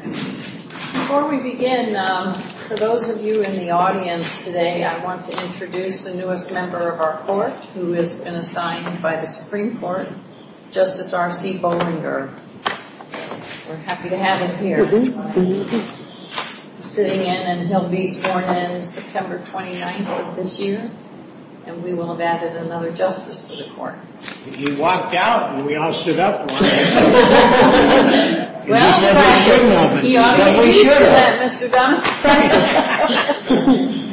Before we begin, for those of you in the audience today, I want to introduce the newest member of our court, who has been assigned by the Supreme Court, Justice R.C. Bollinger. We're happy to have him here. He's sitting in and he'll be sworn in September 29th of this year, and we will have added another justice to the court. He walked out and we all stood up for him. Well, practice. He ought to be sure of that, Mr. Dunham. Practice.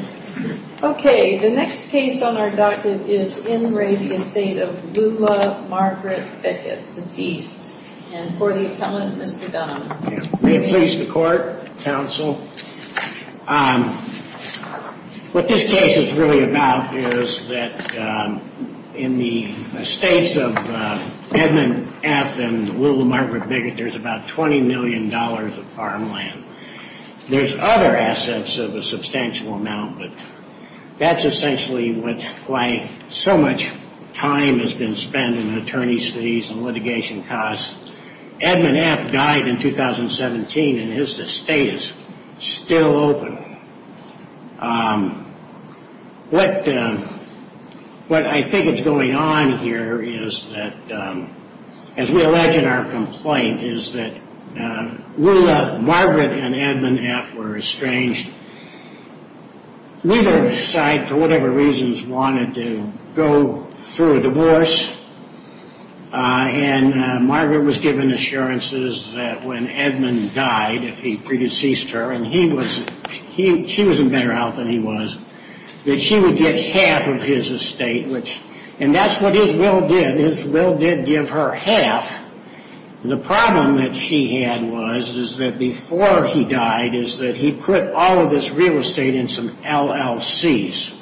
Okay, the next case on our docket is In Re, the estate of Lula Margaret Bickett, deceased. And for the appellant, Mr. Dunham. May it please the court, counsel. What this case is really about is that in the estates of Edmund F. and Lula Margaret Bickett, there's about $20 million of farmland. There's other assets of a substantial amount, but that's essentially why so much time has been spent in attorney's fees and litigation costs. Edmund F. died in 2017 and his estate is still open. What I think is going on here is that, as we allege in our complaint, is that Lula Margaret and Edmund F. were estranged. Neither side, for whatever reasons, wanted to go through a divorce. And Margaret was given assurances that when Edmund died, if he pre-deceased her, and she was in better health than he was, that she would get half of his estate, and that's what his will did. His will did give her half. The problem that she had was, is that before he died, is that he put all of this real estate in some LLCs.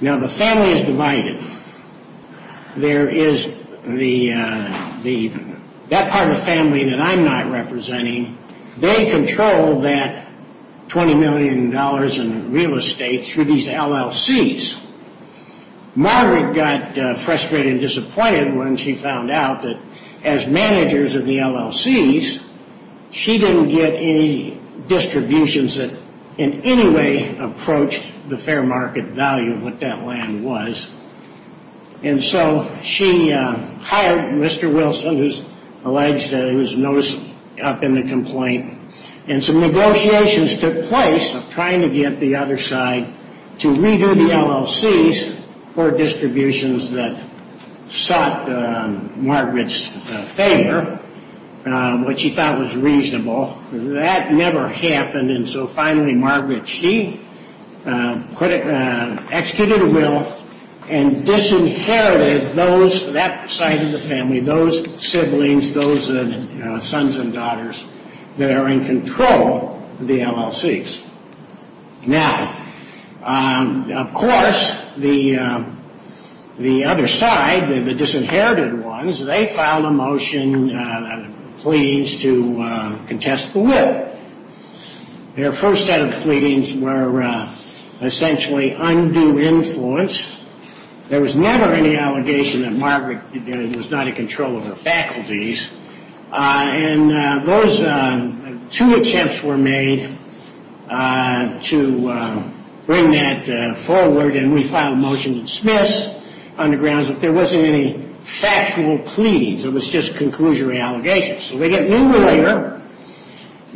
Now, the family is divided. There is the, that part of the family that I'm not representing, they control that $20 million in real estate through these LLCs. Margaret got frustrated and disappointed when she found out that, as managers of the LLCs, she didn't get any distributions that in any way approached the fair market value of what that land was. And so she hired Mr. Wilson, who's alleged that he was noticed up in the complaint. And some negotiations took place of trying to get the other side to redo the LLCs for distributions that sought Margaret's favor, which he thought was reasonable. That never happened, and so finally Margaret, she executed a will and disinherited those, that side of the family, those siblings, those sons and daughters that are in control of the LLCs. Now, of course, the other side, the disinherited ones, they filed a motion, pleadings to contest the will. Their first set of pleadings were essentially undue influence. There was never any allegation that Margaret was not in control of her faculties. And those two attempts were made to bring that forward, and we filed a motion to dismiss, on the grounds that there wasn't any factual pleadings. It was just conclusionary allegations.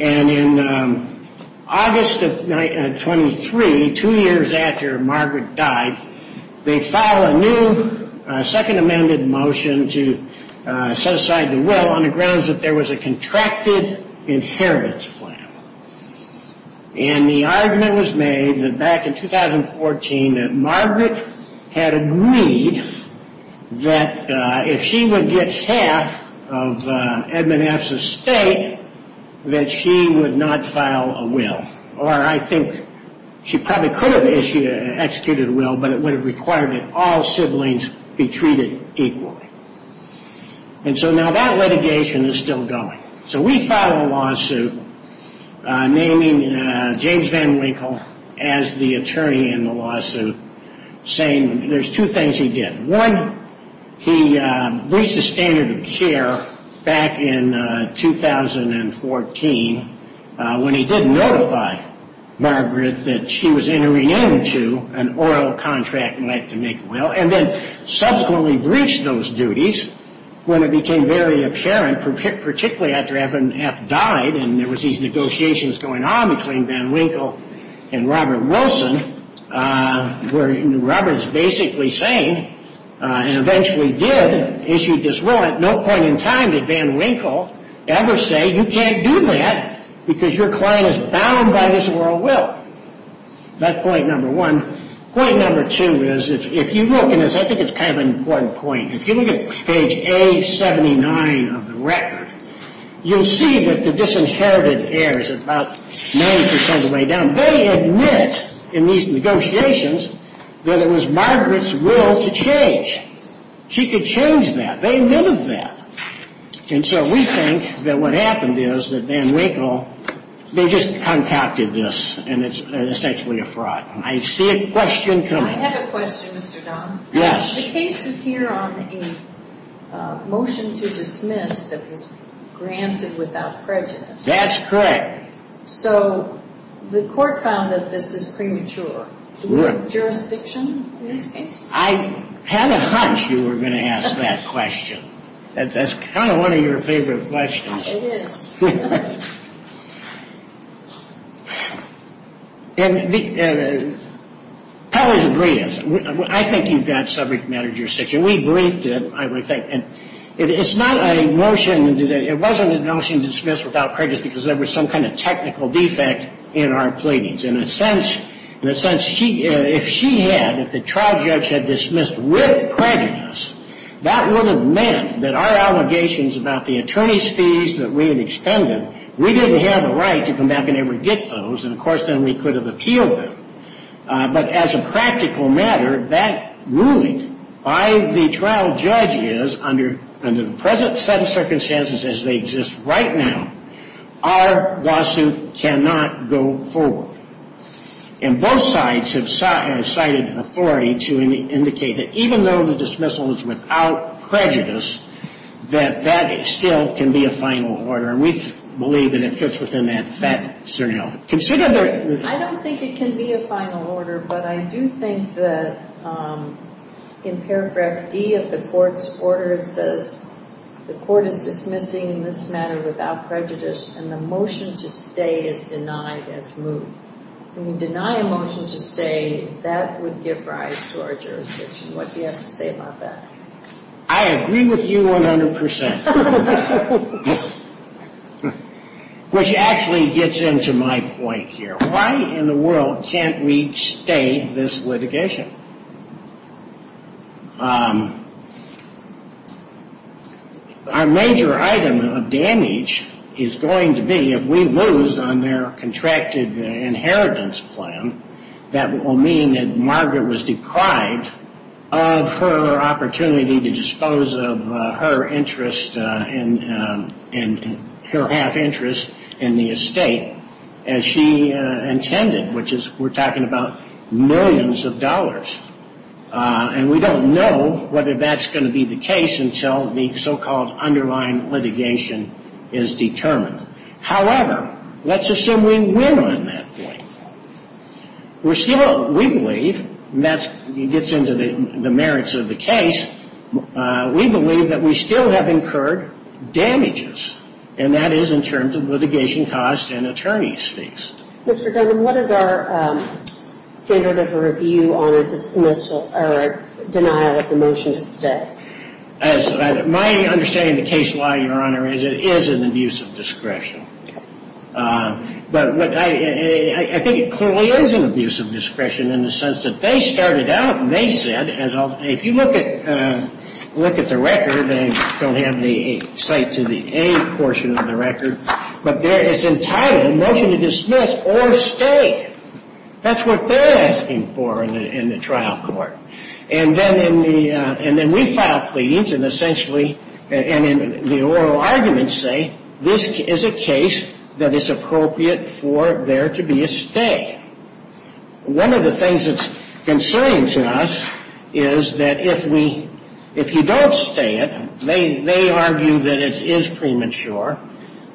And in August of 1923, two years after Margaret died, they filed a new second amended motion to set aside the will, on the grounds that there was a contracted inheritance plan. And the argument was made back in 2014 that Margaret had agreed that if she would get half of Edmund F.'s estate, that she would not file a will. Or I think she probably could have executed a will, but it would have required that all siblings be treated equally. And so now that litigation is still going. So we filed a lawsuit naming James Van Winkle as the attorney in the lawsuit, saying there's two things he did. One, he breached the standard of care back in 2014 when he didn't notify Margaret that she was entering into an oral contract and went to make a will, and then subsequently breached those duties when it became very apparent, particularly after Edmund F. died and there was these negotiations going on between Van Winkle and Robert Wilson, where Robert is basically saying, and eventually did, issued this will. At no point in time did Van Winkle ever say, you can't do that because your client is bound by this oral will. That's point number one. Point number two is, if you look, and I think it's kind of an important point. If you look at page A79 of the record, you'll see that the disinherited heirs about 90% of the way down, they admit in these negotiations that it was Margaret's will to change. She could change that. They admitted that. And so we think that what happened is that Van Winkle, they just contacted this, and it's essentially a fraud. I see a question coming. I have a question, Mr. Don. Yes. The case is here on a motion to dismiss that was granted without prejudice. That's correct. So the court found that this is premature. Do we have jurisdiction in this case? I had a hunch you were going to ask that question. That's kind of one of your favorite questions. It is. I think you've got subject matter jurisdiction. We briefed it, I would think. And it's not a motion to do that. It wasn't a motion to dismiss without prejudice because there was some kind of technical defect in our pleadings. In a sense, if she had, if the trial judge had dismissed with prejudice, that would have meant that our allegations about the attorney's fees that we had experienced, we didn't have a right to come back and ever get those, and, of course, then we could have appealed them. But as a practical matter, that ruling by the trial judge is, under the present set of circumstances as they exist right now, our lawsuit cannot go forward. And both sides have cited authority to indicate that even though the dismissal is without prejudice, that that still can be a final order. And we believe that it fits within that certain health. I don't think it can be a final order, but I do think that in paragraph D of the court's order, it says the court is dismissing this matter without prejudice, and the motion to stay is denied as moved. When you deny a motion to stay, that would give rise to our jurisdiction. What do you have to say about that? I agree with you 100 percent. Which actually gets into my point here. Why in the world can't we stay this litigation? Our major item of damage is going to be if we lose on their contracted inheritance plan, that will mean that Margaret was deprived of her opportunity to dispose of her interest and her half interest in the estate as she intended, which is we're talking about millions of dollars. And we don't know whether that's going to be the case until the so-called underlying litigation is determined. However, let's assume we win on that point. We're still, we believe, and that gets into the merits of the case, we believe that we still have incurred damages, and that is in terms of litigation costs and attorney's fees. Mr. Duggan, what is our standard of a review on a dismissal or a denial of the motion to stay? My understanding of the case law, Your Honor, is it is an abuse of discretion. But I think it clearly is an abuse of discretion in the sense that they started out and they said, if you look at the record, they don't have the cite to the A portion of the record, but it's entitled a motion to dismiss or stay. That's what they're asking for in the trial court. And then in the, and then we file pleadings and essentially, and in the oral arguments say, this is a case that is appropriate for there to be a stay. One of the things that's concerning to us is that if we, if you don't stay it, they argue that it is premature.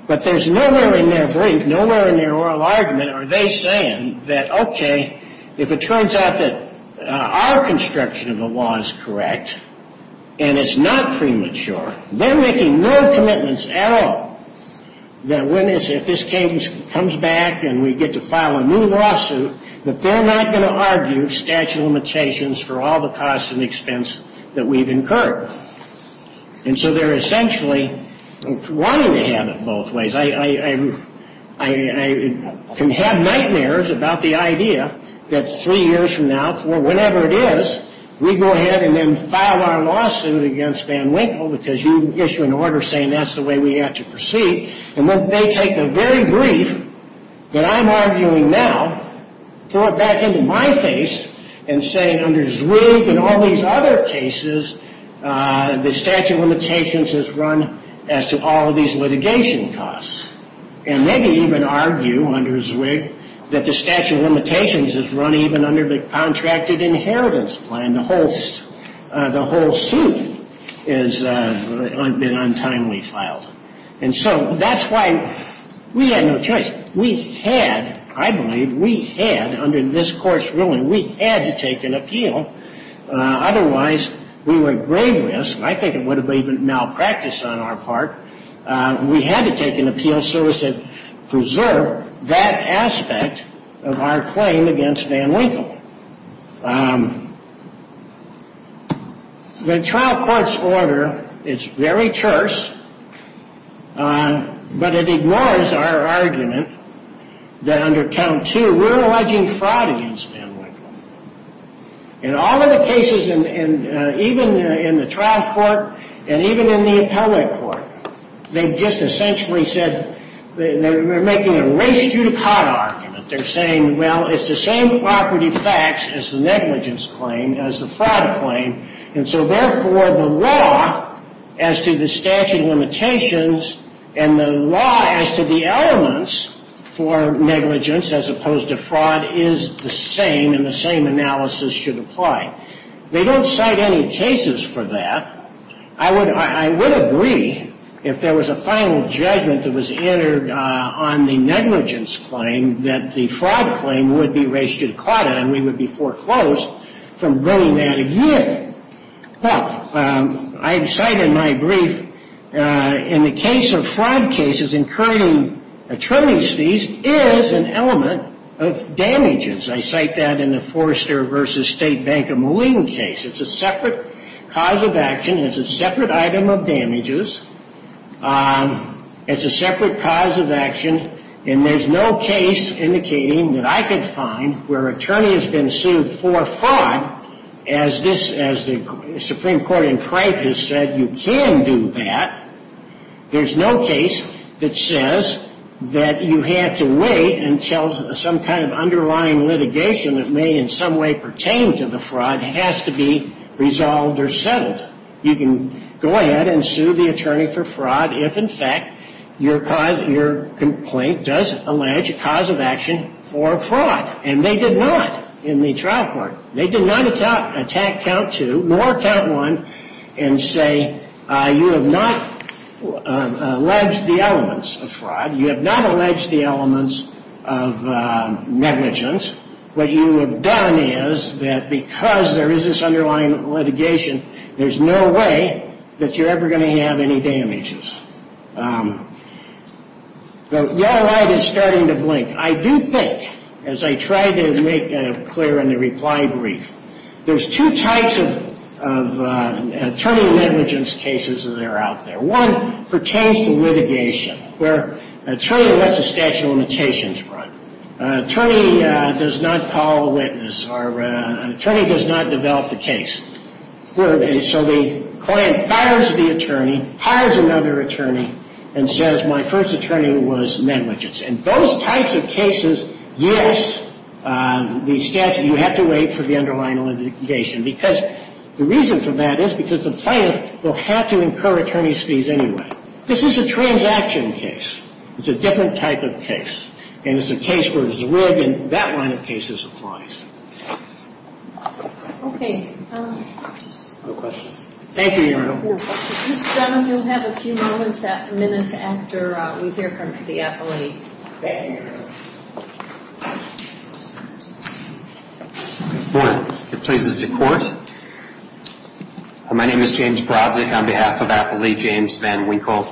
But there's nowhere in their brief, nowhere in their oral argument are they saying that, okay, if it turns out that our construction of the law is correct and it's not premature, they're making no commitments at all that if this case comes back and we get to file a new lawsuit, that they're not going to argue statute of limitations for all the costs and expense that we've incurred. And so they're essentially wanting to have it both ways. I can have nightmares about the idea that three years from now, whenever it is, we go ahead and then file our lawsuit against Van Winkle because you issue an order saying that's the way we have to proceed. And then they take the very brief that I'm arguing now, throw it back into my face, and say under Zwig and all these other cases, the statute of limitations is run as to all of these litigation costs. And maybe even argue under Zwig that the statute of limitations is run even under the contracted inheritance plan. The whole suit has been untimely filed. And so that's why we had no choice. We had, I believe, we had under this court's ruling, we had to take an appeal. Otherwise, we were at grave risk. I think it would have been malpractice on our part. We had to take an appeal so as to preserve that aspect of our claim against Van Winkle. The trial court's order is very terse. But it ignores our argument that under count two, we're alleging fraud against Van Winkle. In all of the cases, even in the trial court and even in the appellate court, they've just essentially said, they're making a race you to caught argument. They're saying, well, it's the same property facts as the negligence claim, as the fraud claim. And so therefore, the law as to the statute of limitations and the law as to the elements for negligence, as opposed to fraud, is the same and the same analysis should apply. They don't cite any cases for that. I would agree, if there was a final judgment that was entered on the negligence claim, that the fraud claim would be race you to caught and we would be foreclosed from bringing that again. Well, I've cited my brief. In the case of fraud cases, incurring attorney's fees is an element of damages. I cite that in the Forrester v. State Bank of Moline case. It's a separate cause of action. It's a separate item of damages. It's a separate cause of action. And there's no case indicating that I could find where an attorney has been sued for fraud, as the Supreme Court in Cripes has said, you can do that. There's no case that says that you have to wait until some kind of underlying litigation that may in some way pertain to the fraud has to be resolved or settled. You can go ahead and sue the attorney for fraud if, in fact, your complaint does allege a cause of action for fraud, and they did not in the trial court. They did not attack count two nor count one and say you have not alleged the elements of fraud. You have not alleged the elements of negligence. What you have done is that because there is this underlying litigation, there's no way that you're ever going to have any damages. The yellow light is starting to blink. I do think, as I tried to make clear in the reply brief, there's two types of attorney negligence cases that are out there. One pertains to litigation, where attorney lets the statute of limitations run. Attorney does not call a witness, or attorney does not develop the case. So the client fires the attorney, hires another attorney, and says my first attorney was negligence. And those types of cases, yes, the statute, you have to wait for the underlying litigation, because the reason for that is because the plaintiff will have to incur attorney's fees anyway. This is a transaction case. It's a different type of case. And it's a case where there's a rib, and that line of cases applies. Okay. No questions. Thank you, Your Honor. Mr. Dunn, you'll have a few moments, minutes after we hear from the appellee. Thank you, Your Honor. Good morning. Good places to court. My name is James Brodzick on behalf of Appellee James Van Winkle.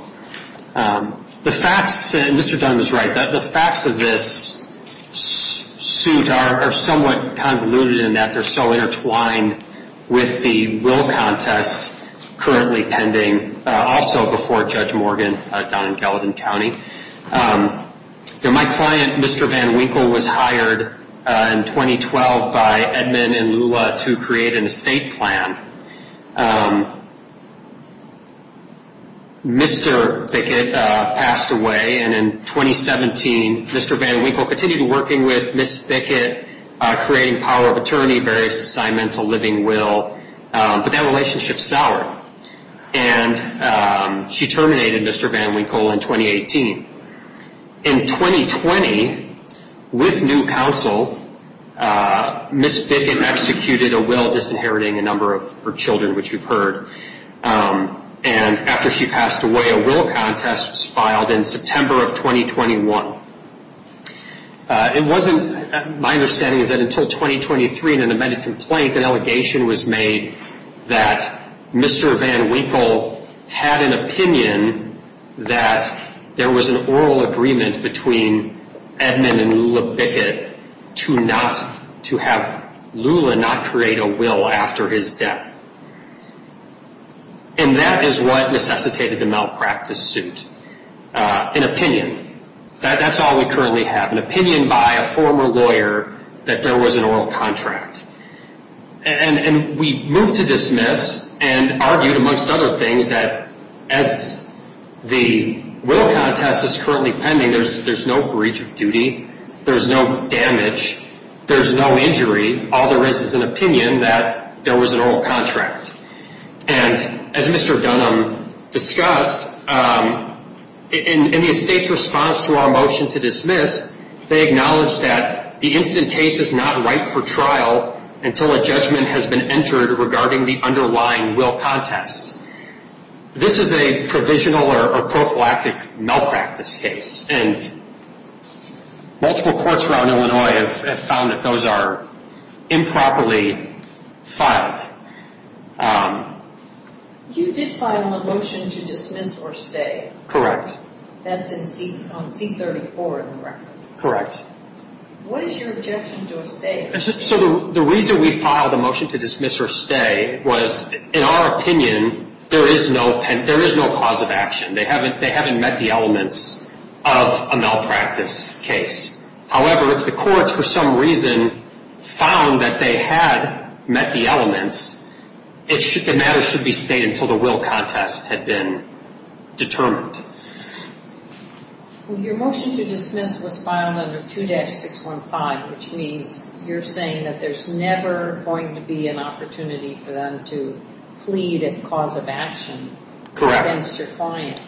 The facts, and Mr. Dunn was right, the facts of this suit are somewhat convoluted in that they're so intertwined with the will contest currently pending, also before Judge Morgan down in Gallatin County. My client, Mr. Van Winkle, was hired in 2012 by Edmund and Lula to create an estate plan. Mr. Bickett passed away, and in 2017, Mr. Van Winkle continued working with Ms. Bickett, creating power of attorney, various assignments, a living will. But that relationship soured, and she terminated Mr. Van Winkle in 2018. In 2020, with new counsel, Ms. Bickett executed a will disinheriting a number of her children, which you've heard. And after she passed away, a will contest was filed in September of 2021. It wasn't, my understanding is that until 2023 in an amended complaint, an allegation was made that Mr. Van Winkle had an opinion that there was an oral agreement between Edmund and Lula Bickett to have Lula not create a will after his death. And that is what necessitated the malpractice suit, an opinion. That's all we currently have, an opinion by a former lawyer that there was an oral contract. And we moved to dismiss and argued, amongst other things, that as the will contest is currently pending, there's no breach of duty, there's no damage, there's no injury. All there is is an opinion that there was an oral contract. And as Mr. Dunham discussed, in the estate's response to our motion to dismiss, they acknowledged that the incident case is not ripe for trial until a judgment has been entered regarding the underlying will contest. This is a provisional or prophylactic malpractice case, and multiple courts around Illinois have found that those are improperly filed. You did file a motion to dismiss or stay. Correct. That's on C-34 in the record. Correct. What is your objection to a stay? So the reason we filed a motion to dismiss or stay was, in our opinion, there is no cause of action. They haven't met the elements of a malpractice case. However, if the courts, for some reason, found that they had met the elements, the matter should be stayed until the will contest had been determined. Well, your motion to dismiss was filed under 2-615, which means you're saying that there's never going to be an opportunity for them to plead a cause of action against your client.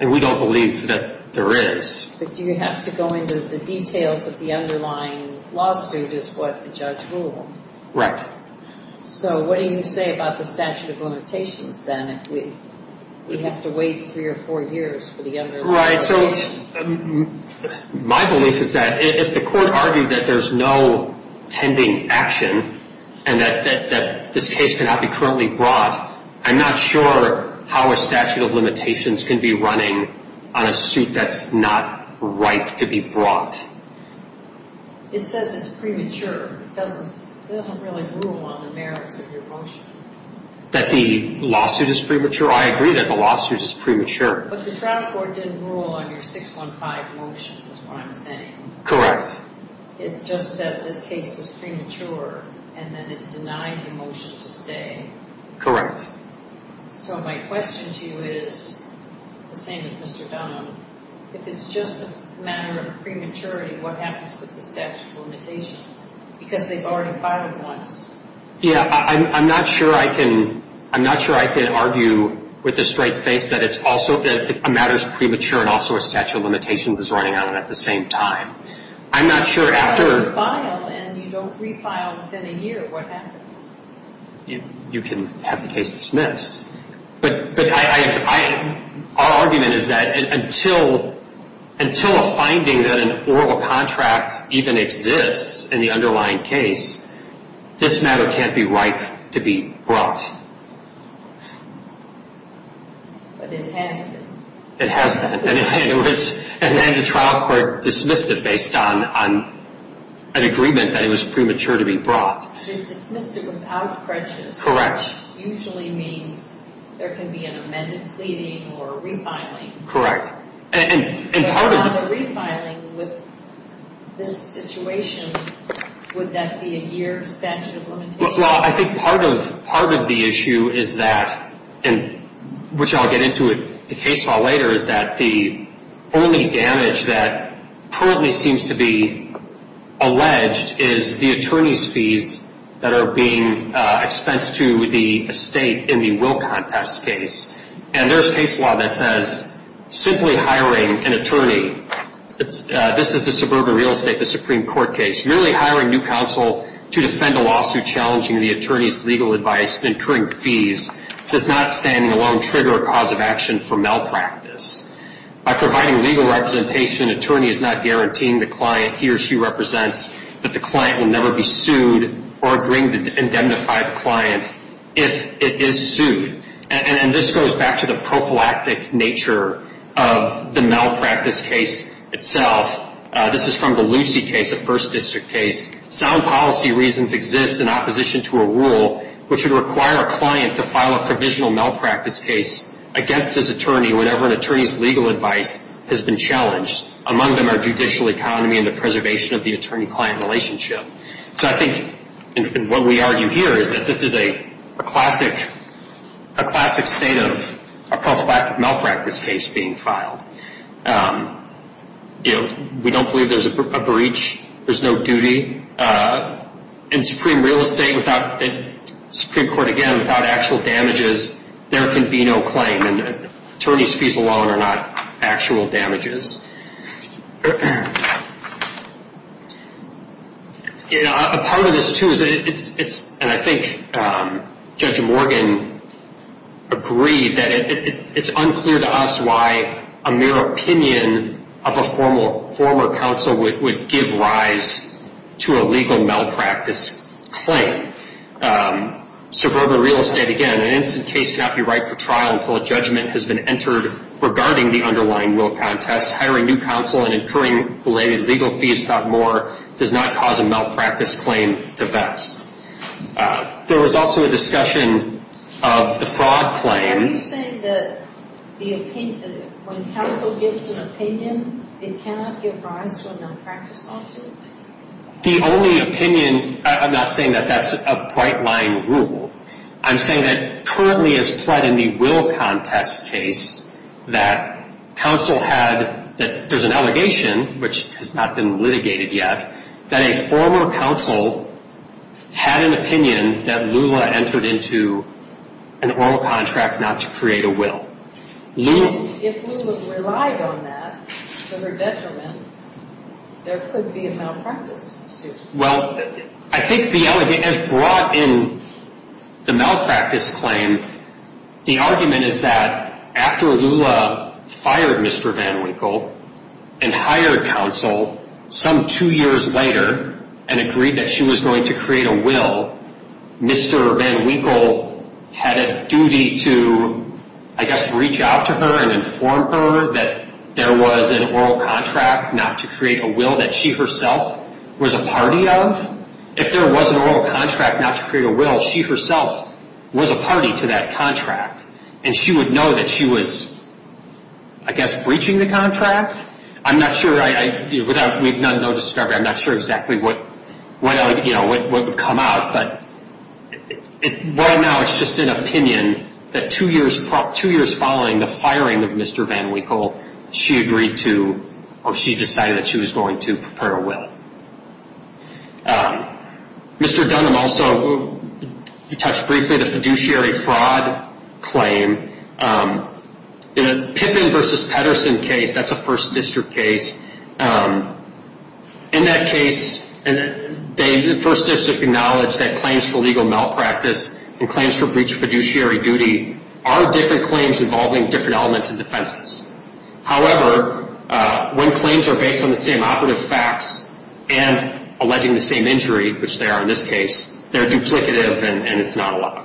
And we don't believe that there is. But do you have to go into the details of the underlying lawsuit is what the judge ruled? Right. So what do you say about the statute of limitations, then, if we have to wait three or four years for the underlying limitation? Right. So my belief is that if the court argued that there's no pending action and that this case cannot be currently brought, I'm not sure how a statute of limitations can be running on a suit that's not ripe to be brought. It says it's premature. It doesn't really rule on the merits of your motion. That the lawsuit is premature? I agree that the lawsuit is premature. But the trial court didn't rule on your 615 motion is what I'm saying. Correct. It just said this case is premature, and then it denied the motion to stay. Correct. So my question to you is the same as Mr. Dunham. If it's just a matter of prematurity, what happens with the statute of limitations? Because they've already filed it once. Yeah, I'm not sure I can argue with a straight face that a matter is premature and also a statute of limitations is running on it at the same time. I'm not sure after... But if you file and you don't refile within a year, what happens? You can have the case dismissed. But our argument is that until a finding that an oral contract even exists in the underlying case, this matter can't be ripe to be brought. But it has been. It has been. And then the trial court dismissed it based on an agreement that it was premature to be brought. They dismissed it without prejudice. Correct. Which usually means there can be an amended pleading or refiling. Correct. And part of the... But on the refiling with this situation, would that be a year statute of limitations? Well, I think part of the issue is that, and which I'll get into in the case law later, is that the only damage that currently seems to be alleged is the attorney's fees that are being expensed to the estate in the will contest case. And there's case law that says simply hiring an attorney, this is the suburban real estate, the Supreme Court case, merely hiring new counsel to defend a lawsuit challenging the attorney's legal advice and incurring fees does not standing alone trigger a cause of action for malpractice. By providing legal representation, an attorney is not guaranteeing the client he or she represents that the client will never be sued or bring to indemnify the client if it is sued. And this goes back to the prophylactic nature of the malpractice case itself. This is from the Lucy case, a first district case. Sound policy reasons exist in opposition to a rule which would require a client to file a provisional malpractice case against his attorney whenever an attorney's legal advice has been challenged. Among them are judicial economy and the preservation of the attorney-client relationship. So I think what we argue here is that this is a classic state of a prophylactic malpractice case being filed. You know, we don't believe there's a breach. There's no duty. In Supreme Court, again, without actual damages, there can be no claim. And attorney's fees alone are not actual damages. You know, a part of this, too, and I think Judge Morgan agreed, that it's unclear to us why a mere opinion of a former counsel would give rise to a legal malpractice claim. Suburban real estate, again, an instant case cannot be right for trial until a judgment has been entered regarding the underlying will contest. Hiring new counsel and incurring related legal fees about more does not cause a malpractice claim to vest. There was also a discussion of the fraud claim. Are you saying that when counsel gives an opinion, it cannot give rise to a malpractice lawsuit? The only opinion, I'm not saying that that's a bright-line rule. I'm saying that currently, as played in the will contest case, that counsel had, that there's an allegation, which has not been litigated yet, that a former counsel had an opinion that Lula entered into an oral contract not to create a will. If Lula relied on that for her detriment, there could be a malpractice suit. Well, I think the allegation is brought in the malpractice claim. The argument is that after Lula fired Mr. Van Winkle and hired counsel, some two years later and agreed that she was going to create a will, Mr. Van Winkle had a duty to, I guess, reach out to her and inform her that there was an oral contract not to create a will that she herself was a party of. If there was an oral contract not to create a will, she herself was a party to that contract, and she would know that she was, I guess, breaching the contract. I'm not sure. We've done no discovery. I'm not sure exactly what would come out. But right now, it's just an opinion that two years following the firing of Mr. Van Winkle, she agreed to or she decided that she was going to prepare a will. Mr. Dunham also touched briefly on the fiduciary fraud claim. In a Pippin v. Pedersen case, that's a First District case. In that case, the First District acknowledged that claims for legal malpractice and claims for breach of fiduciary duty are different claims involving different elements and defenses. However, when claims are based on the same operative facts and alleging the same injury, which they are in this case, they're duplicative and it's not a law.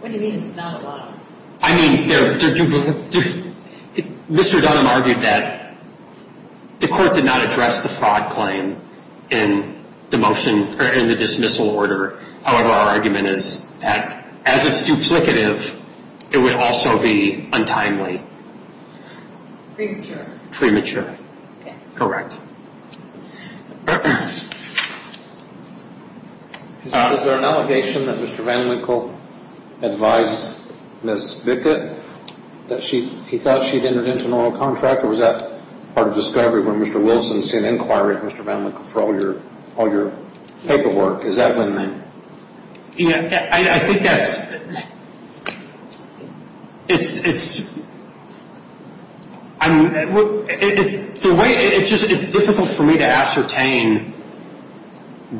What do you mean it's not a law? I mean, they're duplicative. Mr. Dunham argued that the court did not address the fraud claim in the motion or in the dismissal order. However, our argument is that as it's duplicative, it would also be untimely. Premature. Correct. Is there an allegation that Mr. Van Winkle advised Ms. Vickett that he thought she'd entered into an oral contract? Or was that part of the discovery when Mr. Wilson sent an inquiry to Mr. Van Winkle for all your paperwork? Is that when that? Yeah, I think that's, it's difficult for me to ascertain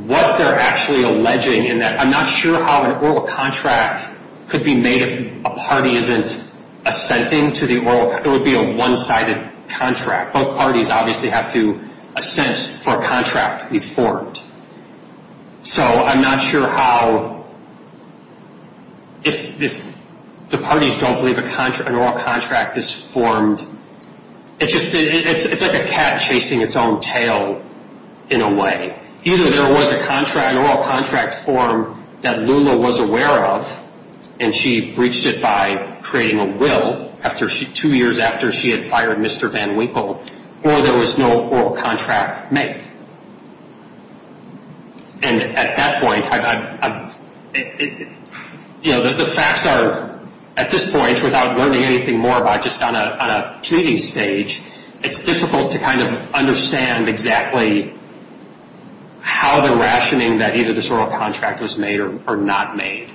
what they're actually alleging. I'm not sure how an oral contract could be made if a party isn't assenting to the oral contract. It would be a one-sided contract. Both parties obviously have to assent for a contract to be formed. So I'm not sure how, if the parties don't believe an oral contract is formed. It's like a cat chasing its own tail in a way. Either there was an oral contract form that Lula was aware of, and she breached it by creating a will two years after she had fired Mr. Van Winkle, or there was no oral contract made. And at that point, you know, the facts are, at this point, without learning anything more by just on a pleading stage, it's difficult to kind of understand exactly how the rationing that either this oral contract was made or not made.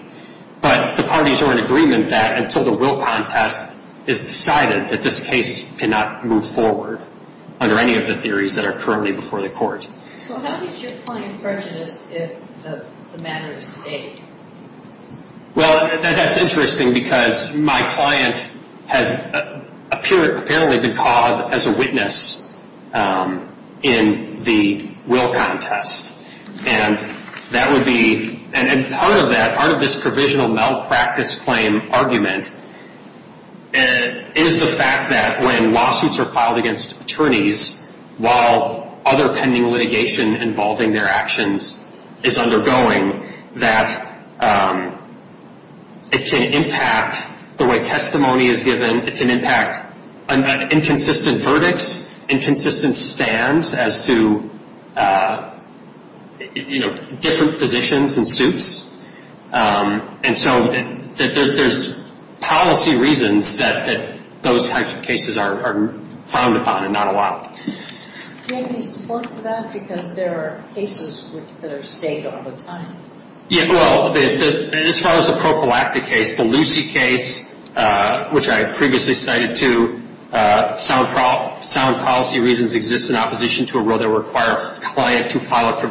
But the parties are in agreement that until the will contest is decided, that this case cannot move forward under any of the theories that are currently before the court. So how does your client prejudice the matter of state? Well, that's interesting because my client has apparently been called as a witness in the will contest. And that would be, and part of that, part of this provisional malpractice claim argument is the fact that when lawsuits are filed against attorneys, while other pending litigation involving their actions is undergoing, that it can impact the way testimony is given. It can impact inconsistent verdicts, inconsistent stands as to, you know, different positions and suits. And so there's policy reasons that those types of cases are frowned upon, and not allowed. Do you have any support for that? Because there are cases that are state all the time. Yeah, well, as far as the Prophylactic case, the Lucy case, which I previously cited too, sound policy reasons exist in opposition to a rule that require a client to file a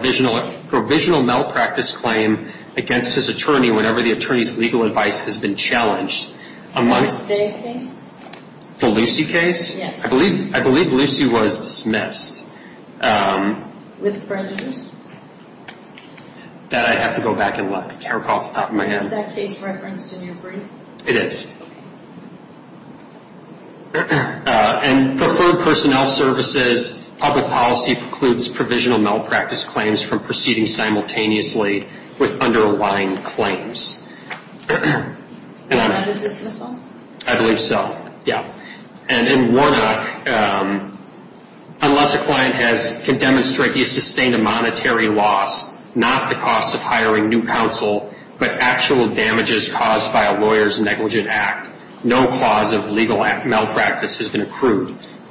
provisional malpractice claim against his attorney whenever the attorney's legal advice has been challenged. The Stay case? The Lucy case? Yes. I believe Lucy was dismissed. With prejudice? That I'd have to go back and look. I can't recall off the top of my head. Is that case referenced in your brief? It is. And for third personnel services, public policy precludes provisional malpractice claims from proceeding simultaneously with underlying claims. Was that a dismissal? I believe so, yeah. And in Warnock, unless a client can demonstrate he sustained a monetary loss, not the cost of hiring new counsel, but actual damages caused by a lawyer's negligent act, no clause of legal malpractice has been accrued.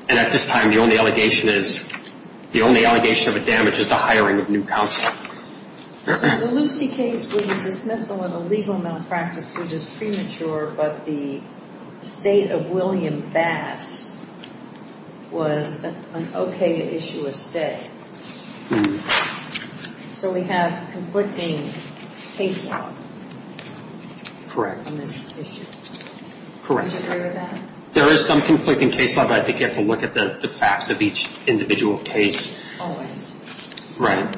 And at this time, the only allegation of a damage is the hiring of new counsel. The Lucy case was a dismissal of a legal malpractice suit as premature, but the state of William Bass was an okay to issue a stay. So we have conflicting case law. Correct. On this issue. Correct. Do you agree with that? There is some conflicting case law, but I think you have to look at the facts of each individual case. Always. Right.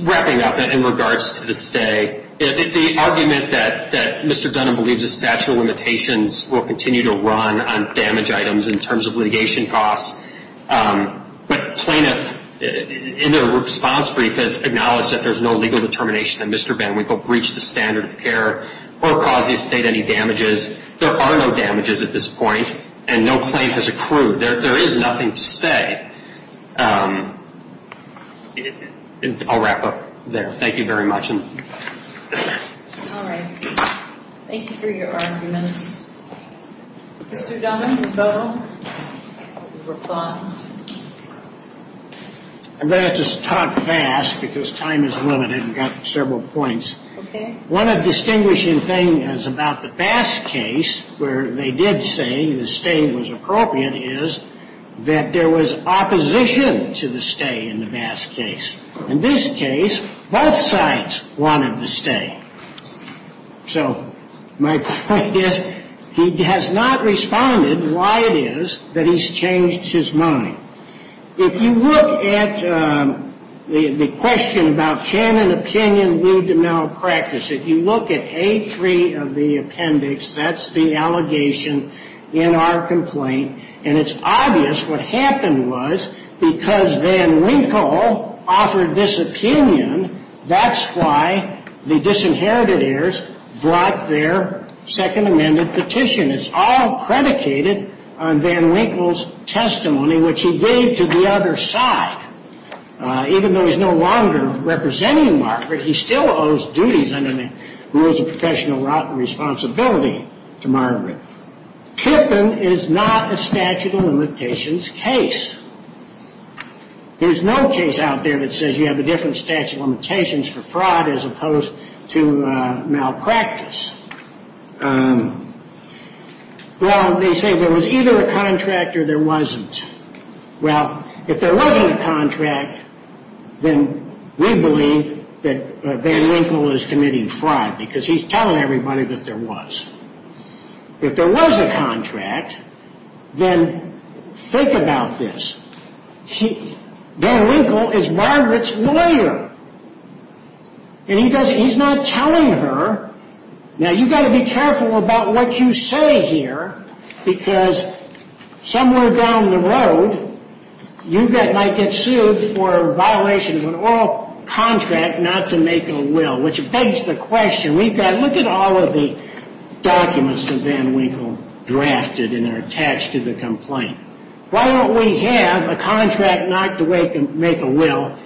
Wrapping up, in regards to the stay, the argument that Mr. Dunham believes the statute of limitations will continue to run on damage items in terms of litigation costs, but plaintiffs, in their response brief, acknowledge that there's no legal determination that Mr. Van Winkle breached the standard of care or caused the estate any damages. There are no damages at this point, and no claim has accrued. There is nothing to say. I'll wrap up there. Thank you very much. All right. Thank you for your arguments. Mr. Dunham, you both have replied. I'm going to have to talk fast because time is limited. We've got several points. Okay. One of the distinguishing things about the Bass case, where they did say the stay was appropriate, is that there was opposition to the stay in the Bass case. In this case, both sides wanted the stay. So my point is he has not responded. Why it is that he's changed his mind. If you look at the question about can an opinion lead to malpractice, if you look at A3 of the appendix, that's the allegation in our complaint, and it's obvious what happened was because Van Winkle offered this opinion, that's why the disinherited heirs brought their second amended petition. It's all predicated on Van Winkle's testimony, which he gave to the other side. Even though he's no longer representing Margaret, he still owes duties under the rules of professional responsibility to Margaret. Kippen is not a statute of limitations case. There's no case out there that says you have a different statute of limitations for fraud as opposed to malpractice. Well, they say there was either a contract or there wasn't. Well, if there wasn't a contract, then we believe that Van Winkle is committing fraud because he's telling everybody that there was. If there was a contract, then think about this. Van Winkle is Margaret's lawyer, and he's not telling her. Now, you've got to be careful about what you say here because somewhere down the road, you might get sued for violations of an oral contract not to make a will, which begs the question. Look at all of the documents that Van Winkle drafted, and they're attached to the complaint. Why don't we have a contract not to make a will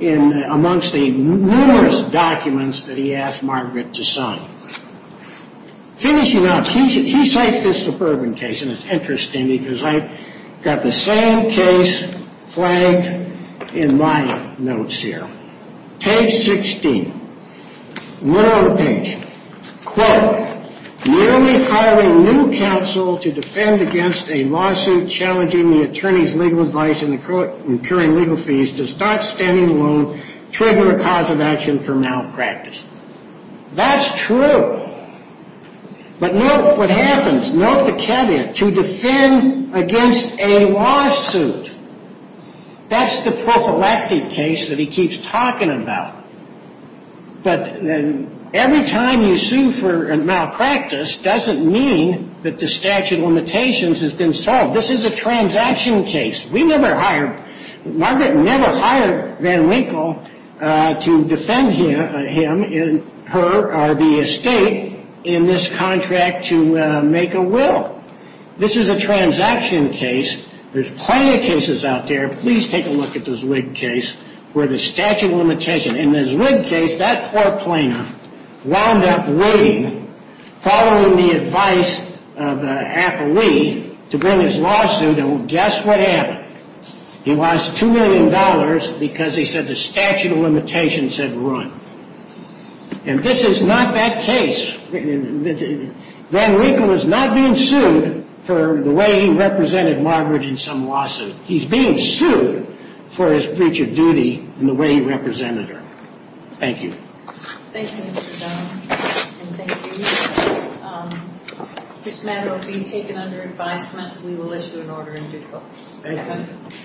amongst the numerous documents that he asked Margaret to sign? Finishing up, he cites this suburban case, and it's interesting because I've got the same case flagged in my notes here. Page 16, middle of the page. Quote, merely hiring new counsel to defend against a lawsuit challenging the attorney's legal advice and incurring legal fees does not stand alone, trigger a cause of action for malpractice. That's true. But note what happens. Note the caveat. To defend against a lawsuit. That's the prophylactic case that he keeps talking about. But every time you sue for malpractice doesn't mean that the statute of limitations has been solved. This is a transaction case. Margaret never hired Van Winkle to defend him or her or the estate in this contract to make a will. This is a transaction case. There's plenty of cases out there. Please take a look at the Zwig case where the statute of limitations. In the Zwig case, that poor plaintiff wound up waiting, following the advice of an affilee, to bring his lawsuit, and guess what happened? He lost $2 million because he said the statute of limitations had run. And this is not that case. Van Winkle is not being sued for the way he represented Margaret in some lawsuit. He's being sued for his breach of duty and the way he represented her. Thank you. Thank you, Mr. Dunn, and thank you. This matter will be taken under advisement. We will issue an order in due course. Thank you.